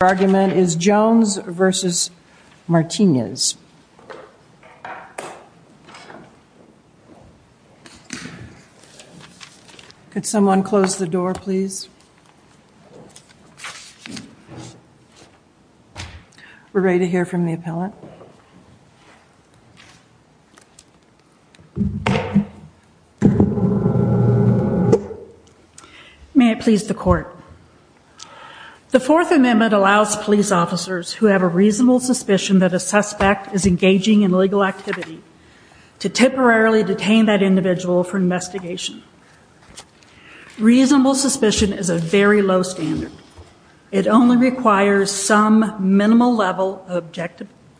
argument is Jones v. Martinez. Could someone close the door, please? We're ready to hear from the appellant. May it please the court. The Fourth Amendment allows police officers who have a reasonable suspicion that a suspect is engaging in illegal activity to temporarily detain that individual for investigation. Reasonable suspicion is a very low standard. It only requires some minimal level of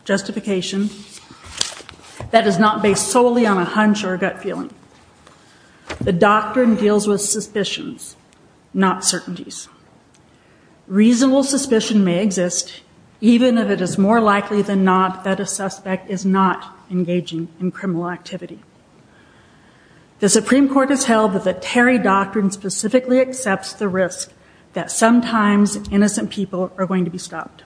justification that is not based solely on a hunch or gut feeling. The doctrine deals with suspicions, not certainties. Reasonable suspicion may exist even if it is more likely than not that a suspect is not engaging in criminal activity. The sometimes innocent people are going to be stopped.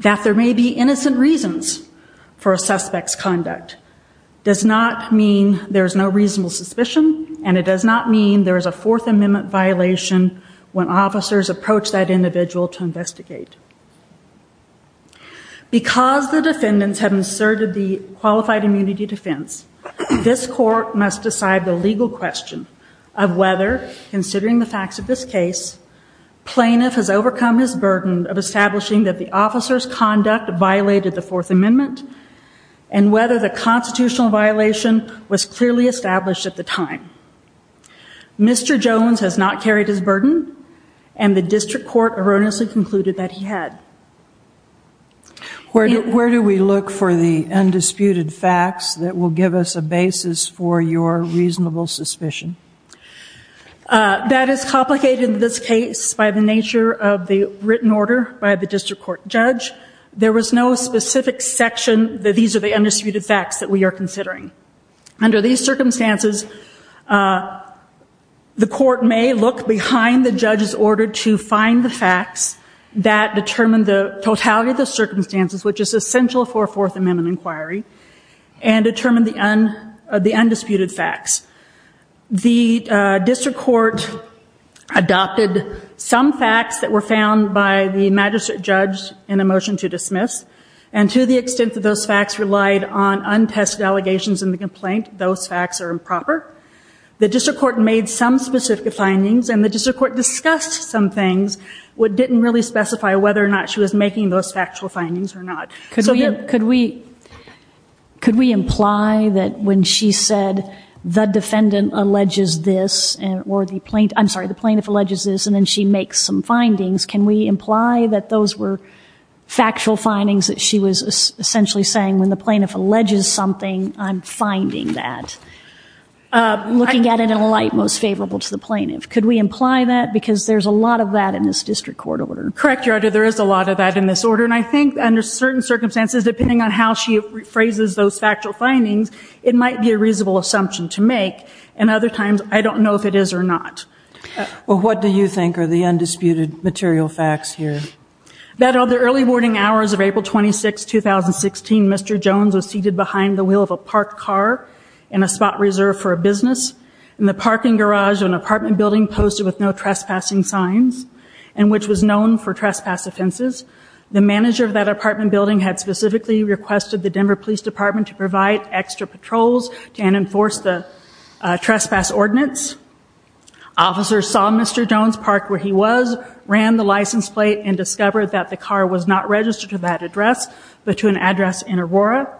That there may be innocent reasons for a suspect's conduct does not mean there's no reasonable suspicion and it does not mean there is a Fourth Amendment violation when officers approach that individual to investigate. Because the defendants have inserted the qualified immunity defense, this court must decide the legal question of whether, considering the facts of this case, plaintiff has overcome his burden of establishing that the officer's conduct violated the Fourth Amendment and whether the constitutional violation was clearly established at the time. Mr. Jones has not carried his burden and the district court erroneously concluded that he had. Where do we look for the undisputed facts that will give us a That is complicated in this case by the nature of the written order by the district court judge. There was no specific section that these are the undisputed facts that we are considering. Under these circumstances, the court may look behind the judge's order to find the facts that determine the totality of the circumstances, which is essential for a Fourth Amendment inquiry, and district court adopted some facts that were found by the magistrate judge in a motion to dismiss, and to the extent that those facts relied on untested allegations in the complaint, those facts are improper. The district court made some specific findings and the district court discussed some things, but didn't really specify whether or not she was making those factual findings or not. Could we could we could we imply that when she said the defendant alleges this and or the plaintiff, I'm sorry, the plaintiff alleges this and then she makes some findings, can we imply that those were factual findings that she was essentially saying when the plaintiff alleges something, I'm finding that, looking at it in a light most favorable to the plaintiff? Could we imply that because there's a lot of that in this district court order? Correct, Your Honor, there is a lot of that in this order and I think under certain circumstances depending on how she phrases those factual findings, it might be a it is or not. Well, what do you think are the undisputed material facts here? That of the early warning hours of April 26, 2016, Mr. Jones was seated behind the wheel of a parked car in a spot reserved for a business in the parking garage of an apartment building posted with no trespassing signs, and which was known for trespass offenses. The manager of that apartment building had specifically requested the Denver Police Department to provide extra patrols and enforce the Officer saw Mr. Jones parked where he was, ran the license plate, and discovered that the car was not registered to that address, but to an address in Aurora,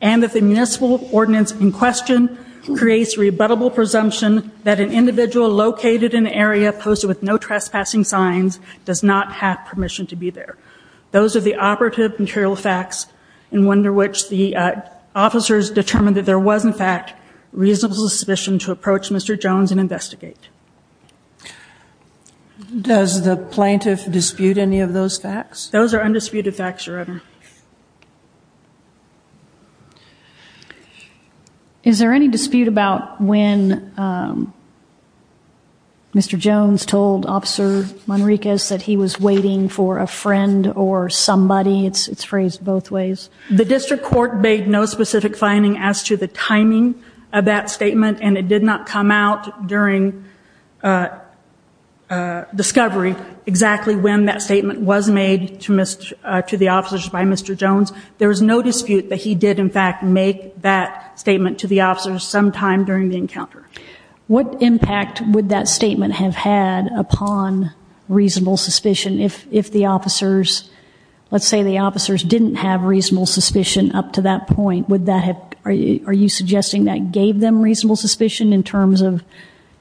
and that the municipal ordinance in question creates rebuttable presumption that an individual located in the area posted with no trespassing signs does not have permission to be there. Those are the operative material facts and one under which the officers determined that there was in fact reasonable suspicion to investigate. Does the plaintiff dispute any of those facts? Those are undisputed facts, Your Honor. Is there any dispute about when Mr. Jones told Officer Monriquez that he was waiting for a friend or somebody? It's phrased both ways. The district court made no specific finding as to the timing of that discovery exactly when that statement was made to the officers by Mr. Jones. There is no dispute that he did in fact make that statement to the officers sometime during the encounter. What impact would that statement have had upon reasonable suspicion if the officers, let's say the officers didn't have reasonable suspicion up to that point, would that have, are you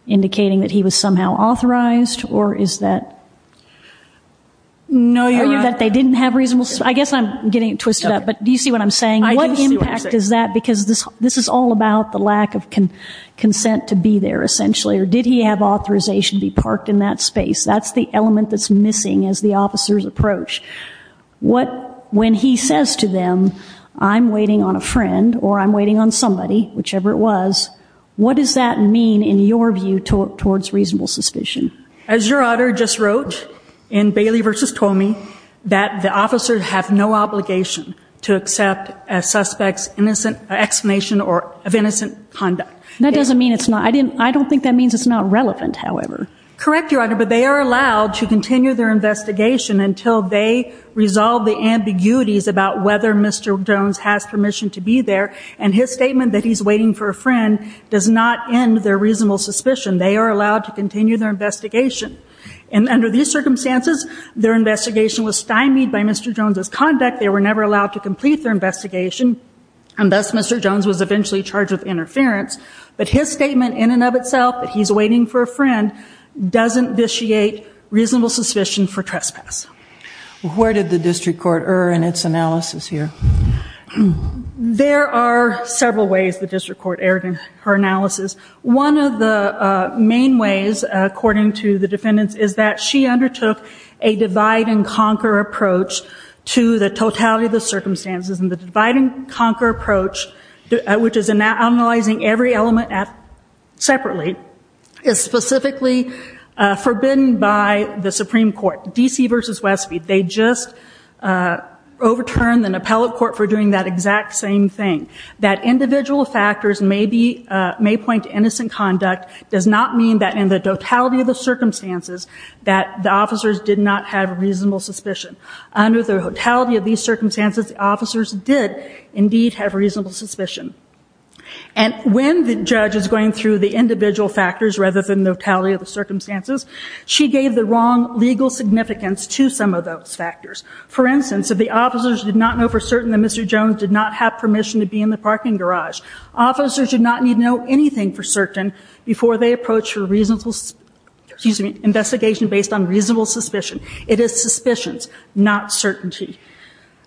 indicating that he was somehow authorized or is that? No, Your Honor. They didn't have reasonable, I guess I'm getting it twisted up, but do you see what I'm saying? What impact is that? Because this is all about the lack of consent to be there essentially, or did he have authorization to be parked in that space? That's the element that's missing as the officers approach. What, when he says to them, I'm waiting on a friend or I'm waiting on somebody, whichever it was, what does that mean in your view towards reasonable suspicion? As Your Honor just wrote in Bailey v. Toomey, that the officers have no obligation to accept a suspect's innocent explanation or of innocent conduct. That doesn't mean it's not, I didn't, I don't think that means it's not relevant, however. Correct, Your Honor, but they are allowed to continue their investigation until they resolve the ambiguities about whether Mr. Jones has permission to be there, and his statement that he's waiting for a friend does not end their reasonable suspicion. They are allowed to continue their investigation, and under these circumstances, their investigation was stymied by Mr. Jones's conduct. They were never allowed to complete their investigation, and thus Mr. Jones was eventually charged with interference, but his statement in and of itself that he's waiting for a friend doesn't vitiate reasonable suspicion for trespass. Where did the district court err in its analysis here? There are several ways the district court erred in her analysis. One of the main ways, according to the defendants, is that she undertook a divide-and-conquer approach to the totality of the circumstances, and the divide-and-conquer approach, which is analyzing every element separately, is specifically forbidden by the Supreme Court. In the case of Ms. Westby, they just overturned an appellate court for doing that exact same thing. That individual factors may point to innocent conduct does not mean that in the totality of the circumstances that the officers did not have reasonable suspicion. Under the totality of these circumstances, the officers did indeed have reasonable suspicion, and when the judge is going through the individual factors rather than the totality of the circumstances, they may point to some of those factors. For instance, if the officers did not know for certain that Mr. Jones did not have permission to be in the parking garage, officers did not need to know anything for certain before they approached for a reasonable investigation based on reasonable suspicion. It is suspicions, not certainty.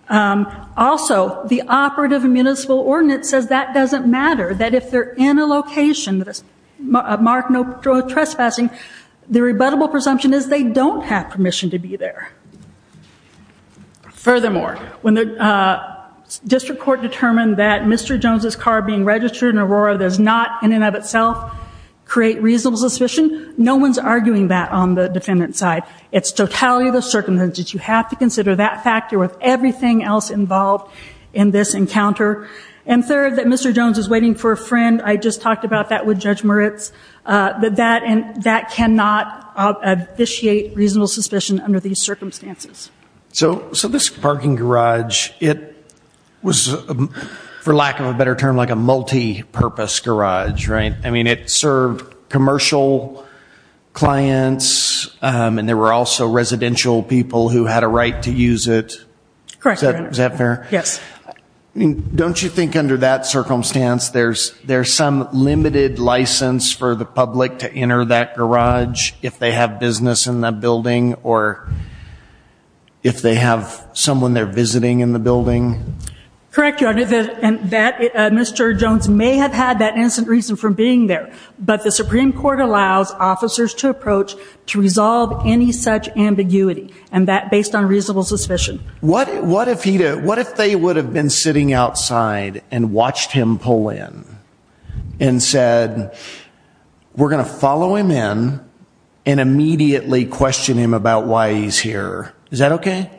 Also, the operative municipal ordinance says that doesn't matter, that if they're in a location that is marked no trespassing, the rebuttable presumption is they don't have permission to be there. Furthermore, when the district court determined that Mr. Jones's car being registered in Aurora does not in and of itself create reasonable suspicion, no one's arguing that on the defendant's side. It's totality of the circumstances. You have to consider that factor with everything else involved in this encounter. And third, that Mr. Jones is waiting for a friend. I just talked about that with Judge Moritz. That cannot officiate reasonable suspicion under these circumstances. So this parking garage, it was, for lack of a better term, like a multi-purpose garage, right? I mean it served commercial clients and there were also residential people who had a right to use it. Correct. Is that fair? Yes. Don't you think under that circumstance there's some limited license for the public to enter that garage if they have business in the building or if they have someone they're visiting in the building? Correct, Your Honor. And that Mr. Jones may have had that instant reason for being there, but the Supreme Court allows officers to approach to resolve any such ambiguity and that based on reasonable suspicion. What if he did, what if they would have been sitting outside and watched him pull in and said we're gonna follow him in and immediately question him about why he's here. Is that okay?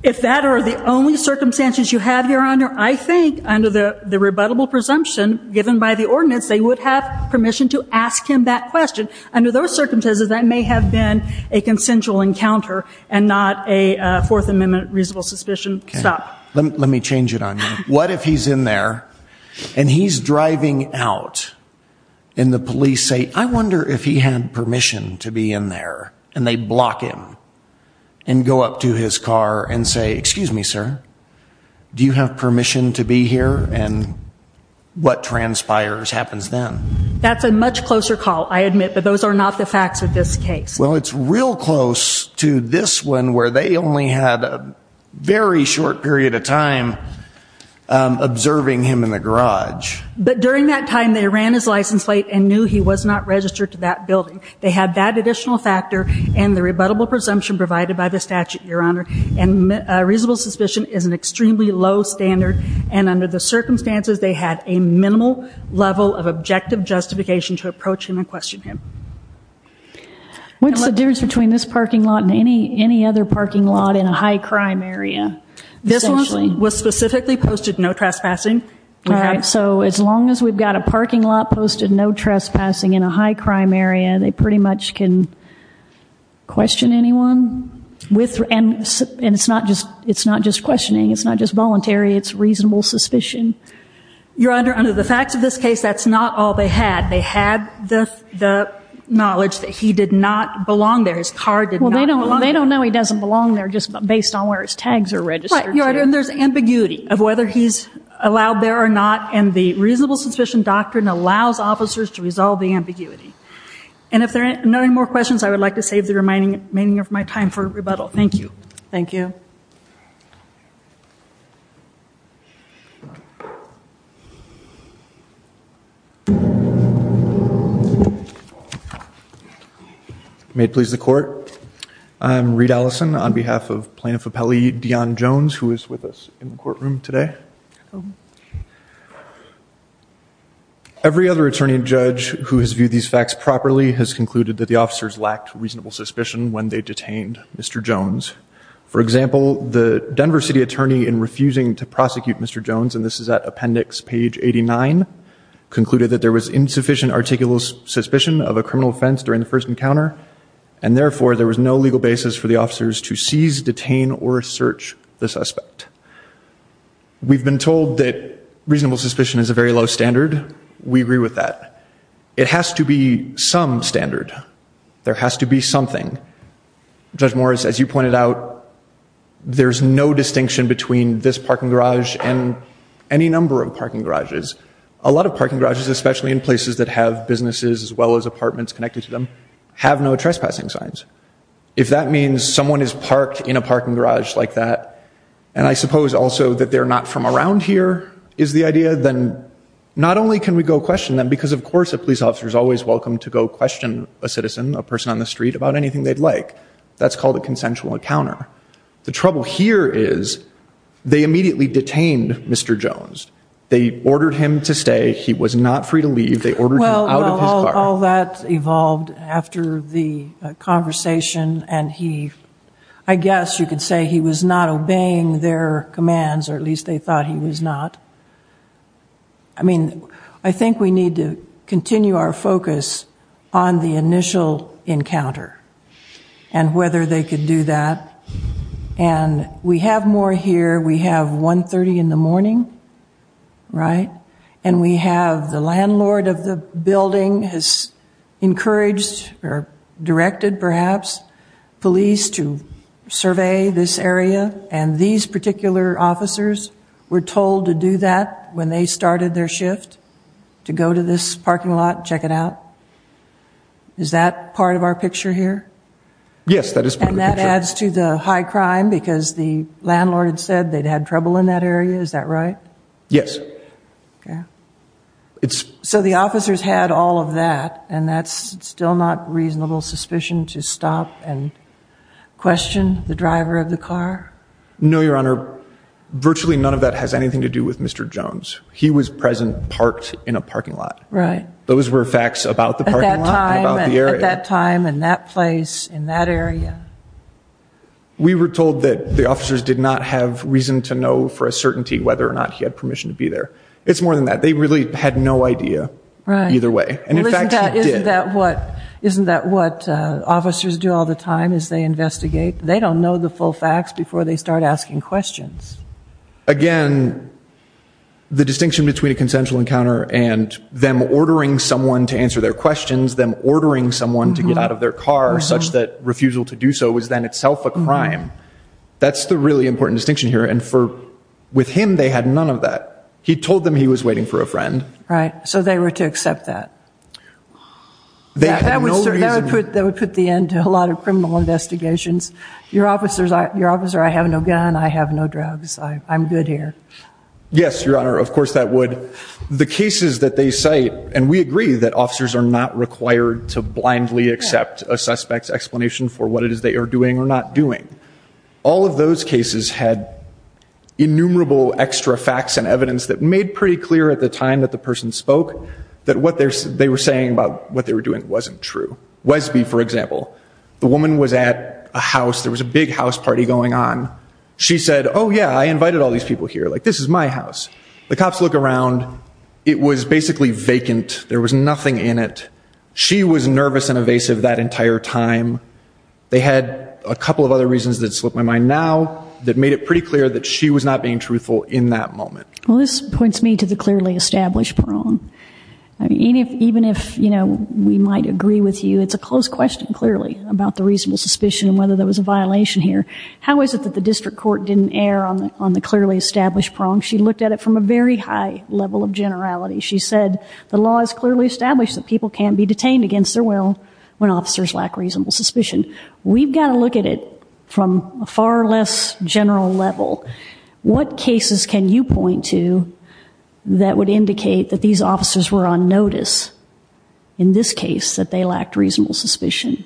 If that are the only circumstances you have, Your Honor, I think under the the rebuttable presumption given by the ordinance they would have permission to ask him that question. Under those circumstances that may have been a consensual encounter and not a Fourth Amendment reasonable suspicion. Stop. Let me change it on you. What if he's in there and he's driving out and the police say I wonder if he had permission to be in there and they block him and go up to his car and say excuse me sir do you have permission to be here and what transpires happens then? That's a much closer call I admit but those are not the facts of this case. Well it's real close to this one where they only had a very short period of time observing him in the garage. But during that time they ran his license plate and knew he was not registered to that building. They had that additional factor and the rebuttable presumption provided by the statute, Your Honor, and reasonable suspicion is an extremely low standard and under the circumstances they had a minimal level of objective justification to approach him and question him. What's the difference between this parking lot and any any other parking lot in a high-crime area? This one was specifically posted no trespassing. So as long as we've got a parking lot posted no trespassing in a high-crime area they pretty much can question anyone and it's not just it's not just questioning it's not just voluntary it's reasonable suspicion. Your Honor, under the facts of this case that's not all they had. They had the knowledge that he did not belong there. His car did not belong there. They don't know he doesn't belong there just based on where his tags are registered. There's ambiguity of whether he's allowed there or not and the reasonable suspicion doctrine allows officers to resolve the ambiguity. And if there are no more questions I would like to save the remaining of my time for rebuttal. Thank you. Thank you. May it please the court. I'm Reid Allison on behalf of Plaintiff Appellee Dion Jones who is with us in the courtroom today. Every other attorney and judge who has viewed these facts properly has concluded that the officers lacked reasonable suspicion when they detained Mr. Jones. For example the Denver City attorney in refusing to prosecute Mr. Jones and this is at appendix page 89 concluded that there was insufficient articulous suspicion of a criminal offense during the first encounter and therefore there was no legal basis for the officers to seize, detain, or search the suspect. We've been told that reasonable suspicion is a very low standard. We agree with that. It has to be some standard. There has to be something. Judge Morris as you pointed out there's no distinction between this parking garage and any number of parking garages. A lot of parking garages especially in places that have businesses as well as apartments connected to them have no trespassing signs. If that means someone is parked in a parking garage like that and I suppose also that they're not from around here is the idea then not only can we go question them because of question a citizen a person on the street about anything they'd like that's called a consensual encounter. The trouble here is they immediately detained Mr. Jones. They ordered him to stay. He was not free to leave. They ordered him out of his car. Well all that evolved after the conversation and he I guess you could say he was not obeying their commands or at least they thought he was not. I mean I think we need to continue our focus on the initial encounter and whether they could do that and we have more here. We have 1.30 in the morning right and we have the landlord of the building has encouraged or directed perhaps police to survey this area and these particular officers were told to do that when they started their shift to go to this parking lot check it out. Is that part of our picture here? Yes that is. And that adds to the high crime because the landlord said they'd had trouble in that area is that right? Yes. So the officers had all of that and that's still not reasonable suspicion to stop and question the driver of the car? No your honor virtually none of that has anything to do with Mr. Jones. He was present parked in a parking lot. Right. Those were facts about that time and that place in that area. We were told that the officers did not have reason to know for a certainty whether or not he had permission to be there. It's more than that they really had no idea either way. Isn't that what isn't that what officers do all the time is they investigate? They don't know the full facts before they start asking questions. Again the distinction between a consensual encounter and them ordering someone to answer their questions them ordering someone to get out of their car such that refusal to do so was then itself a crime. That's the really important distinction here and for with him they had none of that. He told them he was waiting for a friend. Right so they were to accept that? That would put the end to a lot of criminal investigations. Your officers are your I'm good here. Yes your honor of course that would. The cases that they cite and we agree that officers are not required to blindly accept a suspect's explanation for what it is they are doing or not doing. All of those cases had innumerable extra facts and evidence that made pretty clear at the time that the person spoke that what they were saying about what they were doing wasn't true. Wesby for example the woman was at a house there was a big house party going on. She said oh yeah I invited all these people here like this is my house. The cops look around it was basically vacant there was nothing in it. She was nervous and evasive that entire time. They had a couple of other reasons that slipped my mind now that made it pretty clear that she was not being truthful in that moment. Well this points me to the clearly established prong. Even if you know we might agree with you it's a close question clearly about the reasonable suspicion and whether there was a violation here how is it that the district court didn't err on the clearly established prong? She looked at it from a very high level of generality. She said the law is clearly established that people can't be detained against their will when officers lack reasonable suspicion. We've got to look at it from a far less general level. What cases can you point to that would indicate that these officers were on notice in this case that they lacked reasonable suspicion?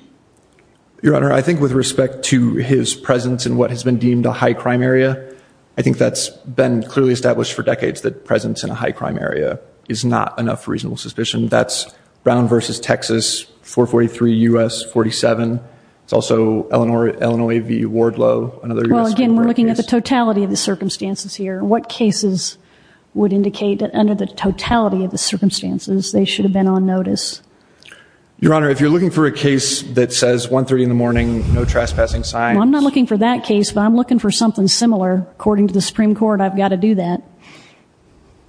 Your Honor I think with respect to his presence and what has been deemed a high crime area I think that's been clearly established for decades that presence in a high crime area is not enough reasonable suspicion. That's Brown vs. Texas 443 U.S. 47. It's also Illinois v. Wardlow. Again we're looking at the totality of the circumstances here. What cases would indicate that under the totality of the circumstances they should have been on notice? Your Honor if you're looking for a case that says 130 in the morning no trespassing signs. I'm not looking for that case but I'm looking for something similar according to the Supreme Court I've got to do that.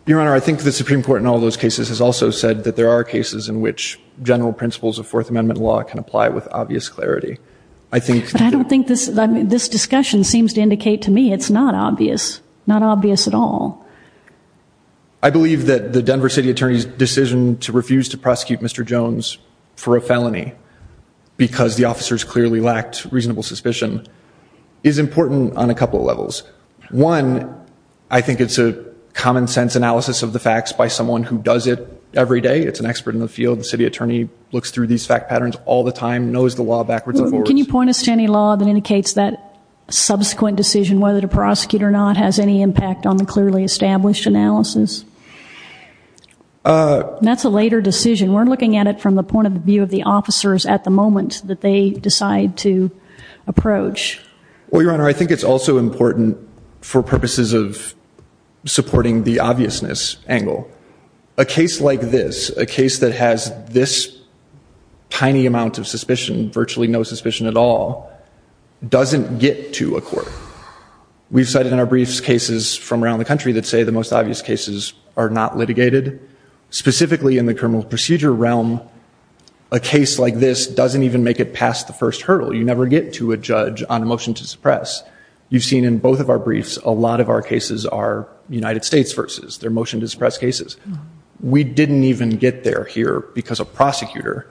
Your Honor I think the Supreme Court in all those cases has also said that there are cases in which general principles of Fourth Amendment law can apply with obvious clarity. I think I don't think this this discussion seems to indicate to me it's not obvious not obvious at all. I believe that the Denver City Attorney's decision to refuse to because the officers clearly lacked reasonable suspicion is important on a couple of levels. One I think it's a common-sense analysis of the facts by someone who does it every day. It's an expert in the field. The city attorney looks through these fact patterns all the time knows the law backwards. Can you point us to any law that indicates that subsequent decision whether to prosecute or not has any impact on the clearly established analysis? That's a later decision we're looking at it from the point of view of the officers at the moment that they decide to approach. Well Your Honor I think it's also important for purposes of supporting the obviousness angle. A case like this a case that has this tiny amount of suspicion virtually no suspicion at all doesn't get to a court. We've cited in our briefs cases from around the country that say the most obvious cases are not litigated specifically in the criminal procedure realm. A case like this doesn't even make it past the first hurdle. You never get to a judge on a motion to suppress. You've seen in both of our briefs a lot of our cases are United States versus their motion to suppress cases. We didn't even get there here because a prosecutor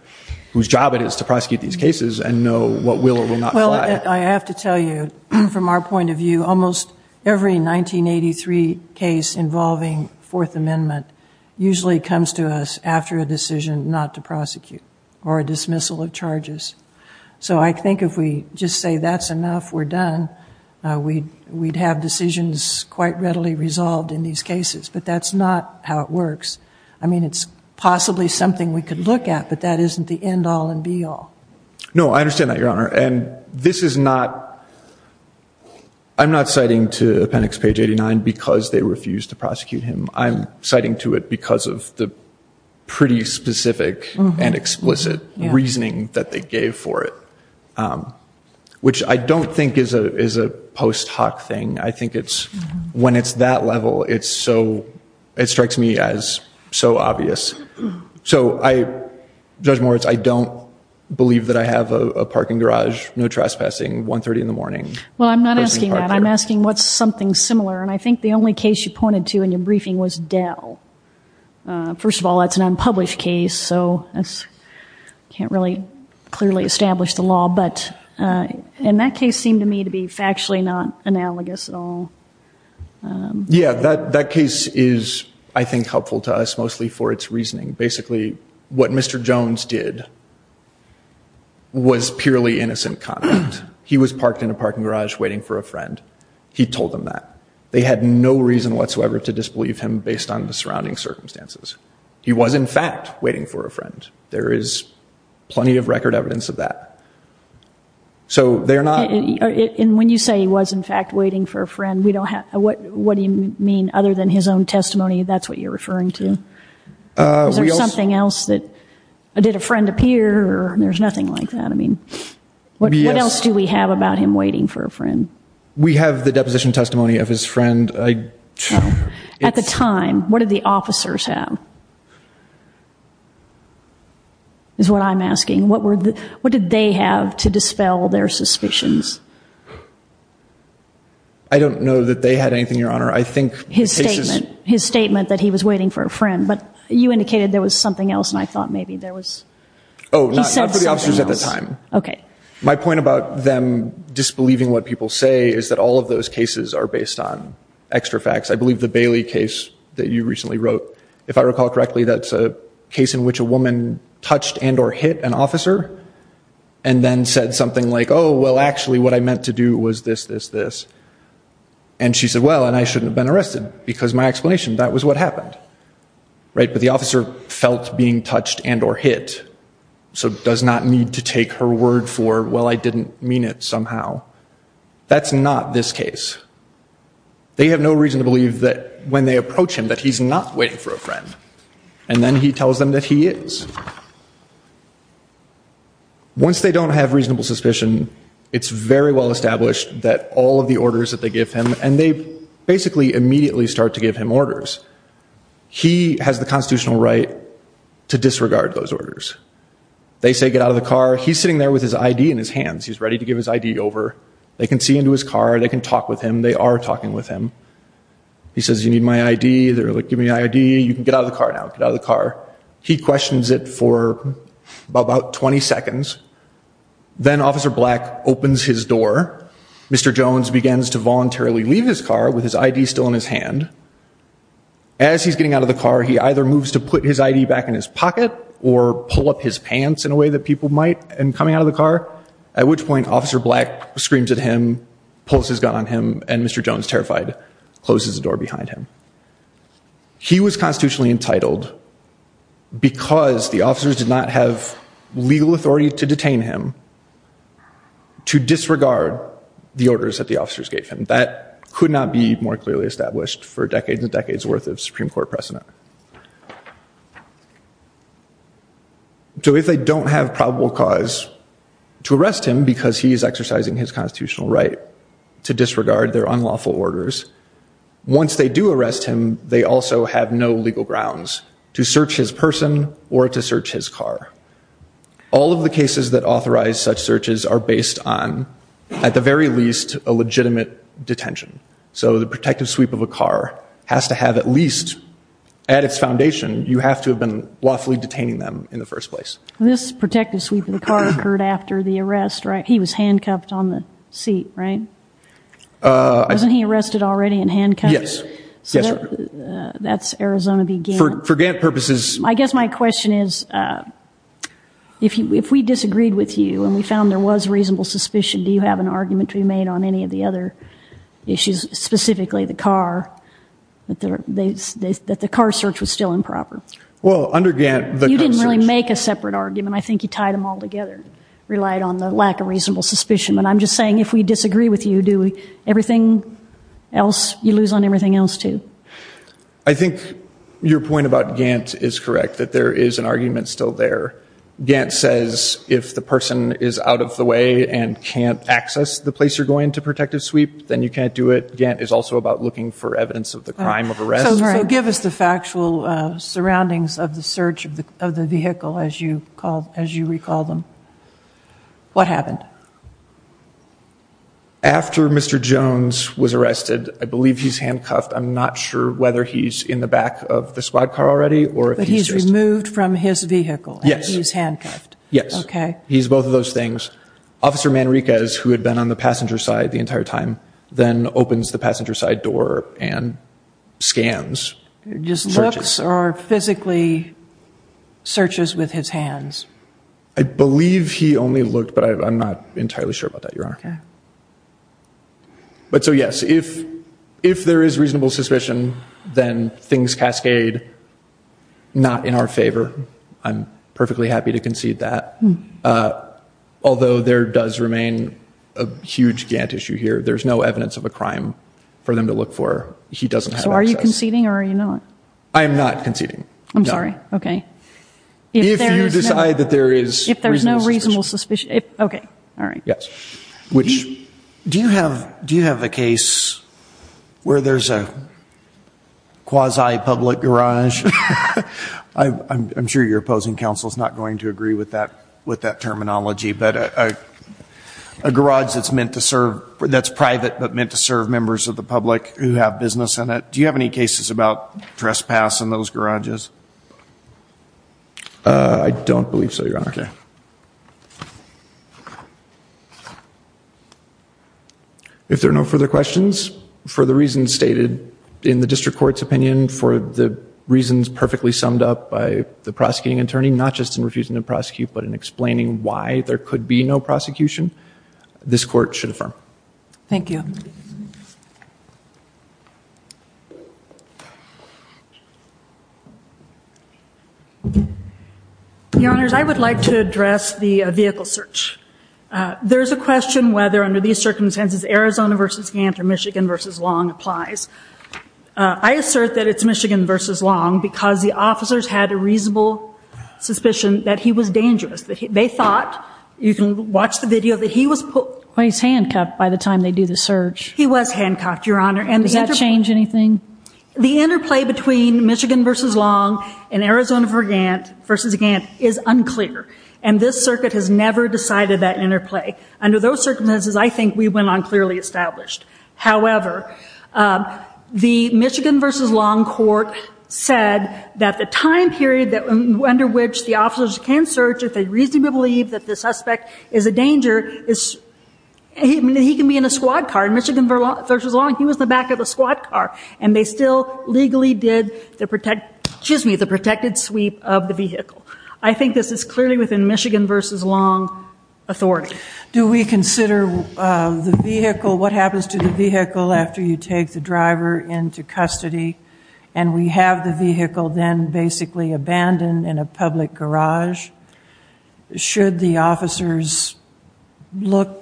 whose job it is to prosecute these cases and know what will or will not fly. Well I have to tell you from our point of view almost every 1983 case involving Fourth Amendment usually comes to us after a decision not to prosecute or a dismissal of charges. So I think if we just say that's enough we're done we we'd have decisions quite readily resolved in these cases but that's not how it works. I mean it's possibly something we could look at but that isn't the end-all and be-all. No I understand that Your Honor and this is not I'm not citing to it because of the pretty specific and explicit reasoning that they gave for it which I don't think is a post hoc thing. I think it's when it's that level it's so it strikes me as so obvious. So I judge Moritz I don't believe that I have a parking garage no trespassing 130 in the morning. Well I'm not asking that I'm asking what's something similar and I think the only case you pointed to in the briefing was Dell. First of all that's an unpublished case so that's can't really clearly establish the law but in that case seemed to me to be factually not analogous at all. Yeah that that case is I think helpful to us mostly for its reasoning. Basically what Mr. Jones did was purely innocent conduct. He was parked in a parking garage waiting for a friend. He told them that. They had no reason whatsoever to disbelieve him based on the surrounding circumstances. He was in fact waiting for a friend. There is plenty of record evidence of that. So they're not. And when you say he was in fact waiting for a friend we don't have what what do you mean other than his own testimony that's what you're referring to? Is there something else that did a friend appear or there's nothing like that I mean what else do we have about him waiting for a friend? I don't know. At the time what did the officers have is what I'm asking. What were the what did they have to dispel their suspicions? I don't know that they had anything your honor. I think his statement his statement that he was waiting for a friend but you indicated there was something else and I thought maybe there was. Oh not for the officers at the time. Okay. My point about them disbelieving what people say is that all of those cases are based on extra facts. I believe the Bailey case that you recently wrote if I recall correctly that's a case in which a woman touched and or hit an officer and then said something like oh well actually what I meant to do was this this this and she said well and I shouldn't have been arrested because my explanation that was what happened right but the officer felt being touched and or hit so does not need to take her word for well I didn't mean it somehow. That's not this case. They have no reason to believe that when they approach him that he's not waiting for a friend and then he tells them that he is. Once they don't have reasonable suspicion it's very well established that all of the orders that they give him and they basically immediately start to give him orders. He has the car. He's sitting there with his ID in his hands. He's ready to give his ID over. They can see into his car. They can talk with him. They are talking with him. He says you need my ID. They're like give me ID. You can get out of the car now. Get out of the car. He questions it for about 20 seconds. Then Officer Black opens his door. Mr. Jones begins to voluntarily leave his car with his ID still in his hand. As he's getting out of the car he either moves to put his ID back in his and coming out of the car at which point Officer Black screams at him, pulls his gun on him, and Mr. Jones, terrified, closes the door behind him. He was constitutionally entitled because the officers did not have legal authority to detain him to disregard the orders that the officers gave him. That could not be more clearly established for decades and decades worth of Supreme Court proceedings. So what is the probable cause? To arrest him because he is exercising his constitutional right to disregard their unlawful orders. Once they do arrest him, they also have no legal grounds to search his person or to search his car. All of the cases that authorize such searches are based on, at the very least, a legitimate detention. So the protective sweep of a car has to have at least, at its foundation, you have to have been lawfully detaining them in the first place. This protective sweep of the car occurred after the arrest, right? He was handcuffed on the seat, right? Wasn't he arrested already and handcuffed? Yes. That's Arizona v. Gant. For Gant purposes... I guess my question is, if we disagreed with you and we found there was reasonable suspicion, do you have an argument to be made on any of the other issues, specifically the car, that the car search was still improper? Well, under Gant, the car search... You didn't really make a separate argument. I think you tied them all together, relied on the lack of reasonable suspicion. But I'm just saying, if we disagree with you, do you lose on everything else, too? I think your point about Gant is correct, that there is an argument still there. Gant says, if the person is out of the way and can't access the place you're going to protective sweep, then you can't do it. Gant is also about looking for evidence of the crime of arrest. So give us the factual surroundings of the search of the vehicle, as you recall them. What happened? After Mr. Jones was arrested, I believe he's handcuffed. I'm not sure whether he's in the back of the squad car already or if he's just... But he's removed from his vehicle and he's handcuffed? Yes. He's both of those things. Officer Manriquez, who had been on the passenger side the entire time, then opens the passenger side door and scans. Just looks or physically searches with his hands? I believe he only looked, but I'm not entirely sure about that, Your Honor. Okay. But so, yes, if there is reasonable suspicion, then things cascade not in our favor. I'm perfectly happy to concede that. Although there does remain a huge Gant issue here. There's no evidence of a crime for them to look for. He doesn't have access. So are you conceding or are you not? I am not conceding. I'm sorry. Okay. If you decide that there is... If there's no reasonable suspicion... Okay. All right. Yes. Do you have a case where there's a quasi-public garage? I'm sure your opposing counsel is not going to agree with that terminology, but a garage that's meant to serve... that's private but meant to serve members of the public who have business in it. Do you have any cases about trespass in those garages? I don't believe so, Your Honor. Okay. If there are no further questions, for the reasons stated in the district court's opinion, for the reasons perfectly summed up by the prosecuting attorney, not just in refusing to prosecute, but in explaining why there could be no prosecution, this court should affirm. Thank you. Your Honors, I would like to address the vehicle search. There is a question whether, under these circumstances, Arizona v. Gantt or Michigan v. Long applies. I assert that it's Michigan v. Long because the officers had a reasonable suspicion that he was dangerous. They thought, you can watch the video, that he was... Well, he's handcuffed by the time they do the search. He was handcuffed, Your Honor. Does that change anything? The interplay between Michigan v. Long and Arizona v. Gantt is unclear, and this circuit has never decided that interplay. Under those circumstances, I think we went on clearly established. However, the Michigan v. Long court said that the time period under which the officers can search, if they reasonably believe that the suspect is a danger, he can be in a squad car. In Michigan v. Long, he was in the back of a squad car, and they still legally did the protected sweep of the vehicle. I think this is clearly within Michigan v. Long authority. Do we consider the vehicle, what happens to the vehicle after you take the driver into custody, and we have the vehicle then basically abandoned in a public garage? Should the officers look?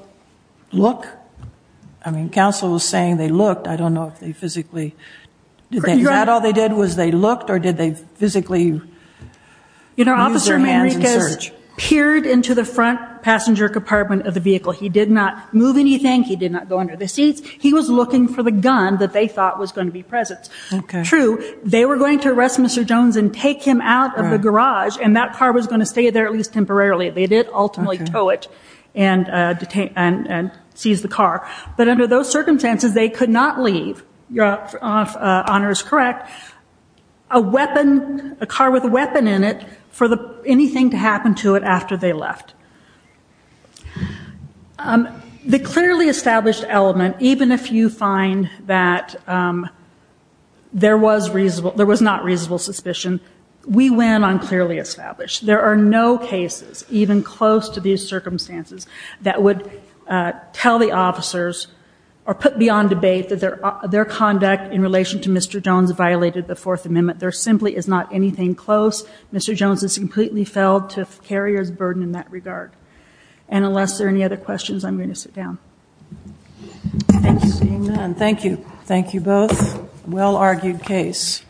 I mean, counsel was saying they looked. I don't know if they physically... Is that all they did was they looked, or did they physically use their hands in search? You know, Officer Manriquez peered into the front passenger compartment of the vehicle. He did not move anything. He did not go under the seats. He was looking for the gun that they thought was going to be present. True, they were going to arrest Mr. Jones and take him out of the garage, and that car was going to stay there at least temporarily. They did ultimately tow it and seize the car. But under those circumstances, they could not leave, if Honor is correct, a car with a weapon in it for anything to happen to it after they left. The clearly established element, even if you find that there was not reasonable suspicion, we went on clearly established. There are no cases, even close to these circumstances, that would tell the officers or put beyond debate that their conduct in relation to Mr. Jones violated the Fourth Amendment. There simply is not anything close. Mr. Jones is completely felled to the carrier's burden in that regard. And unless there are any other questions, I'm going to sit down. Thank you. Thank you. Thank you both. Well-argued case.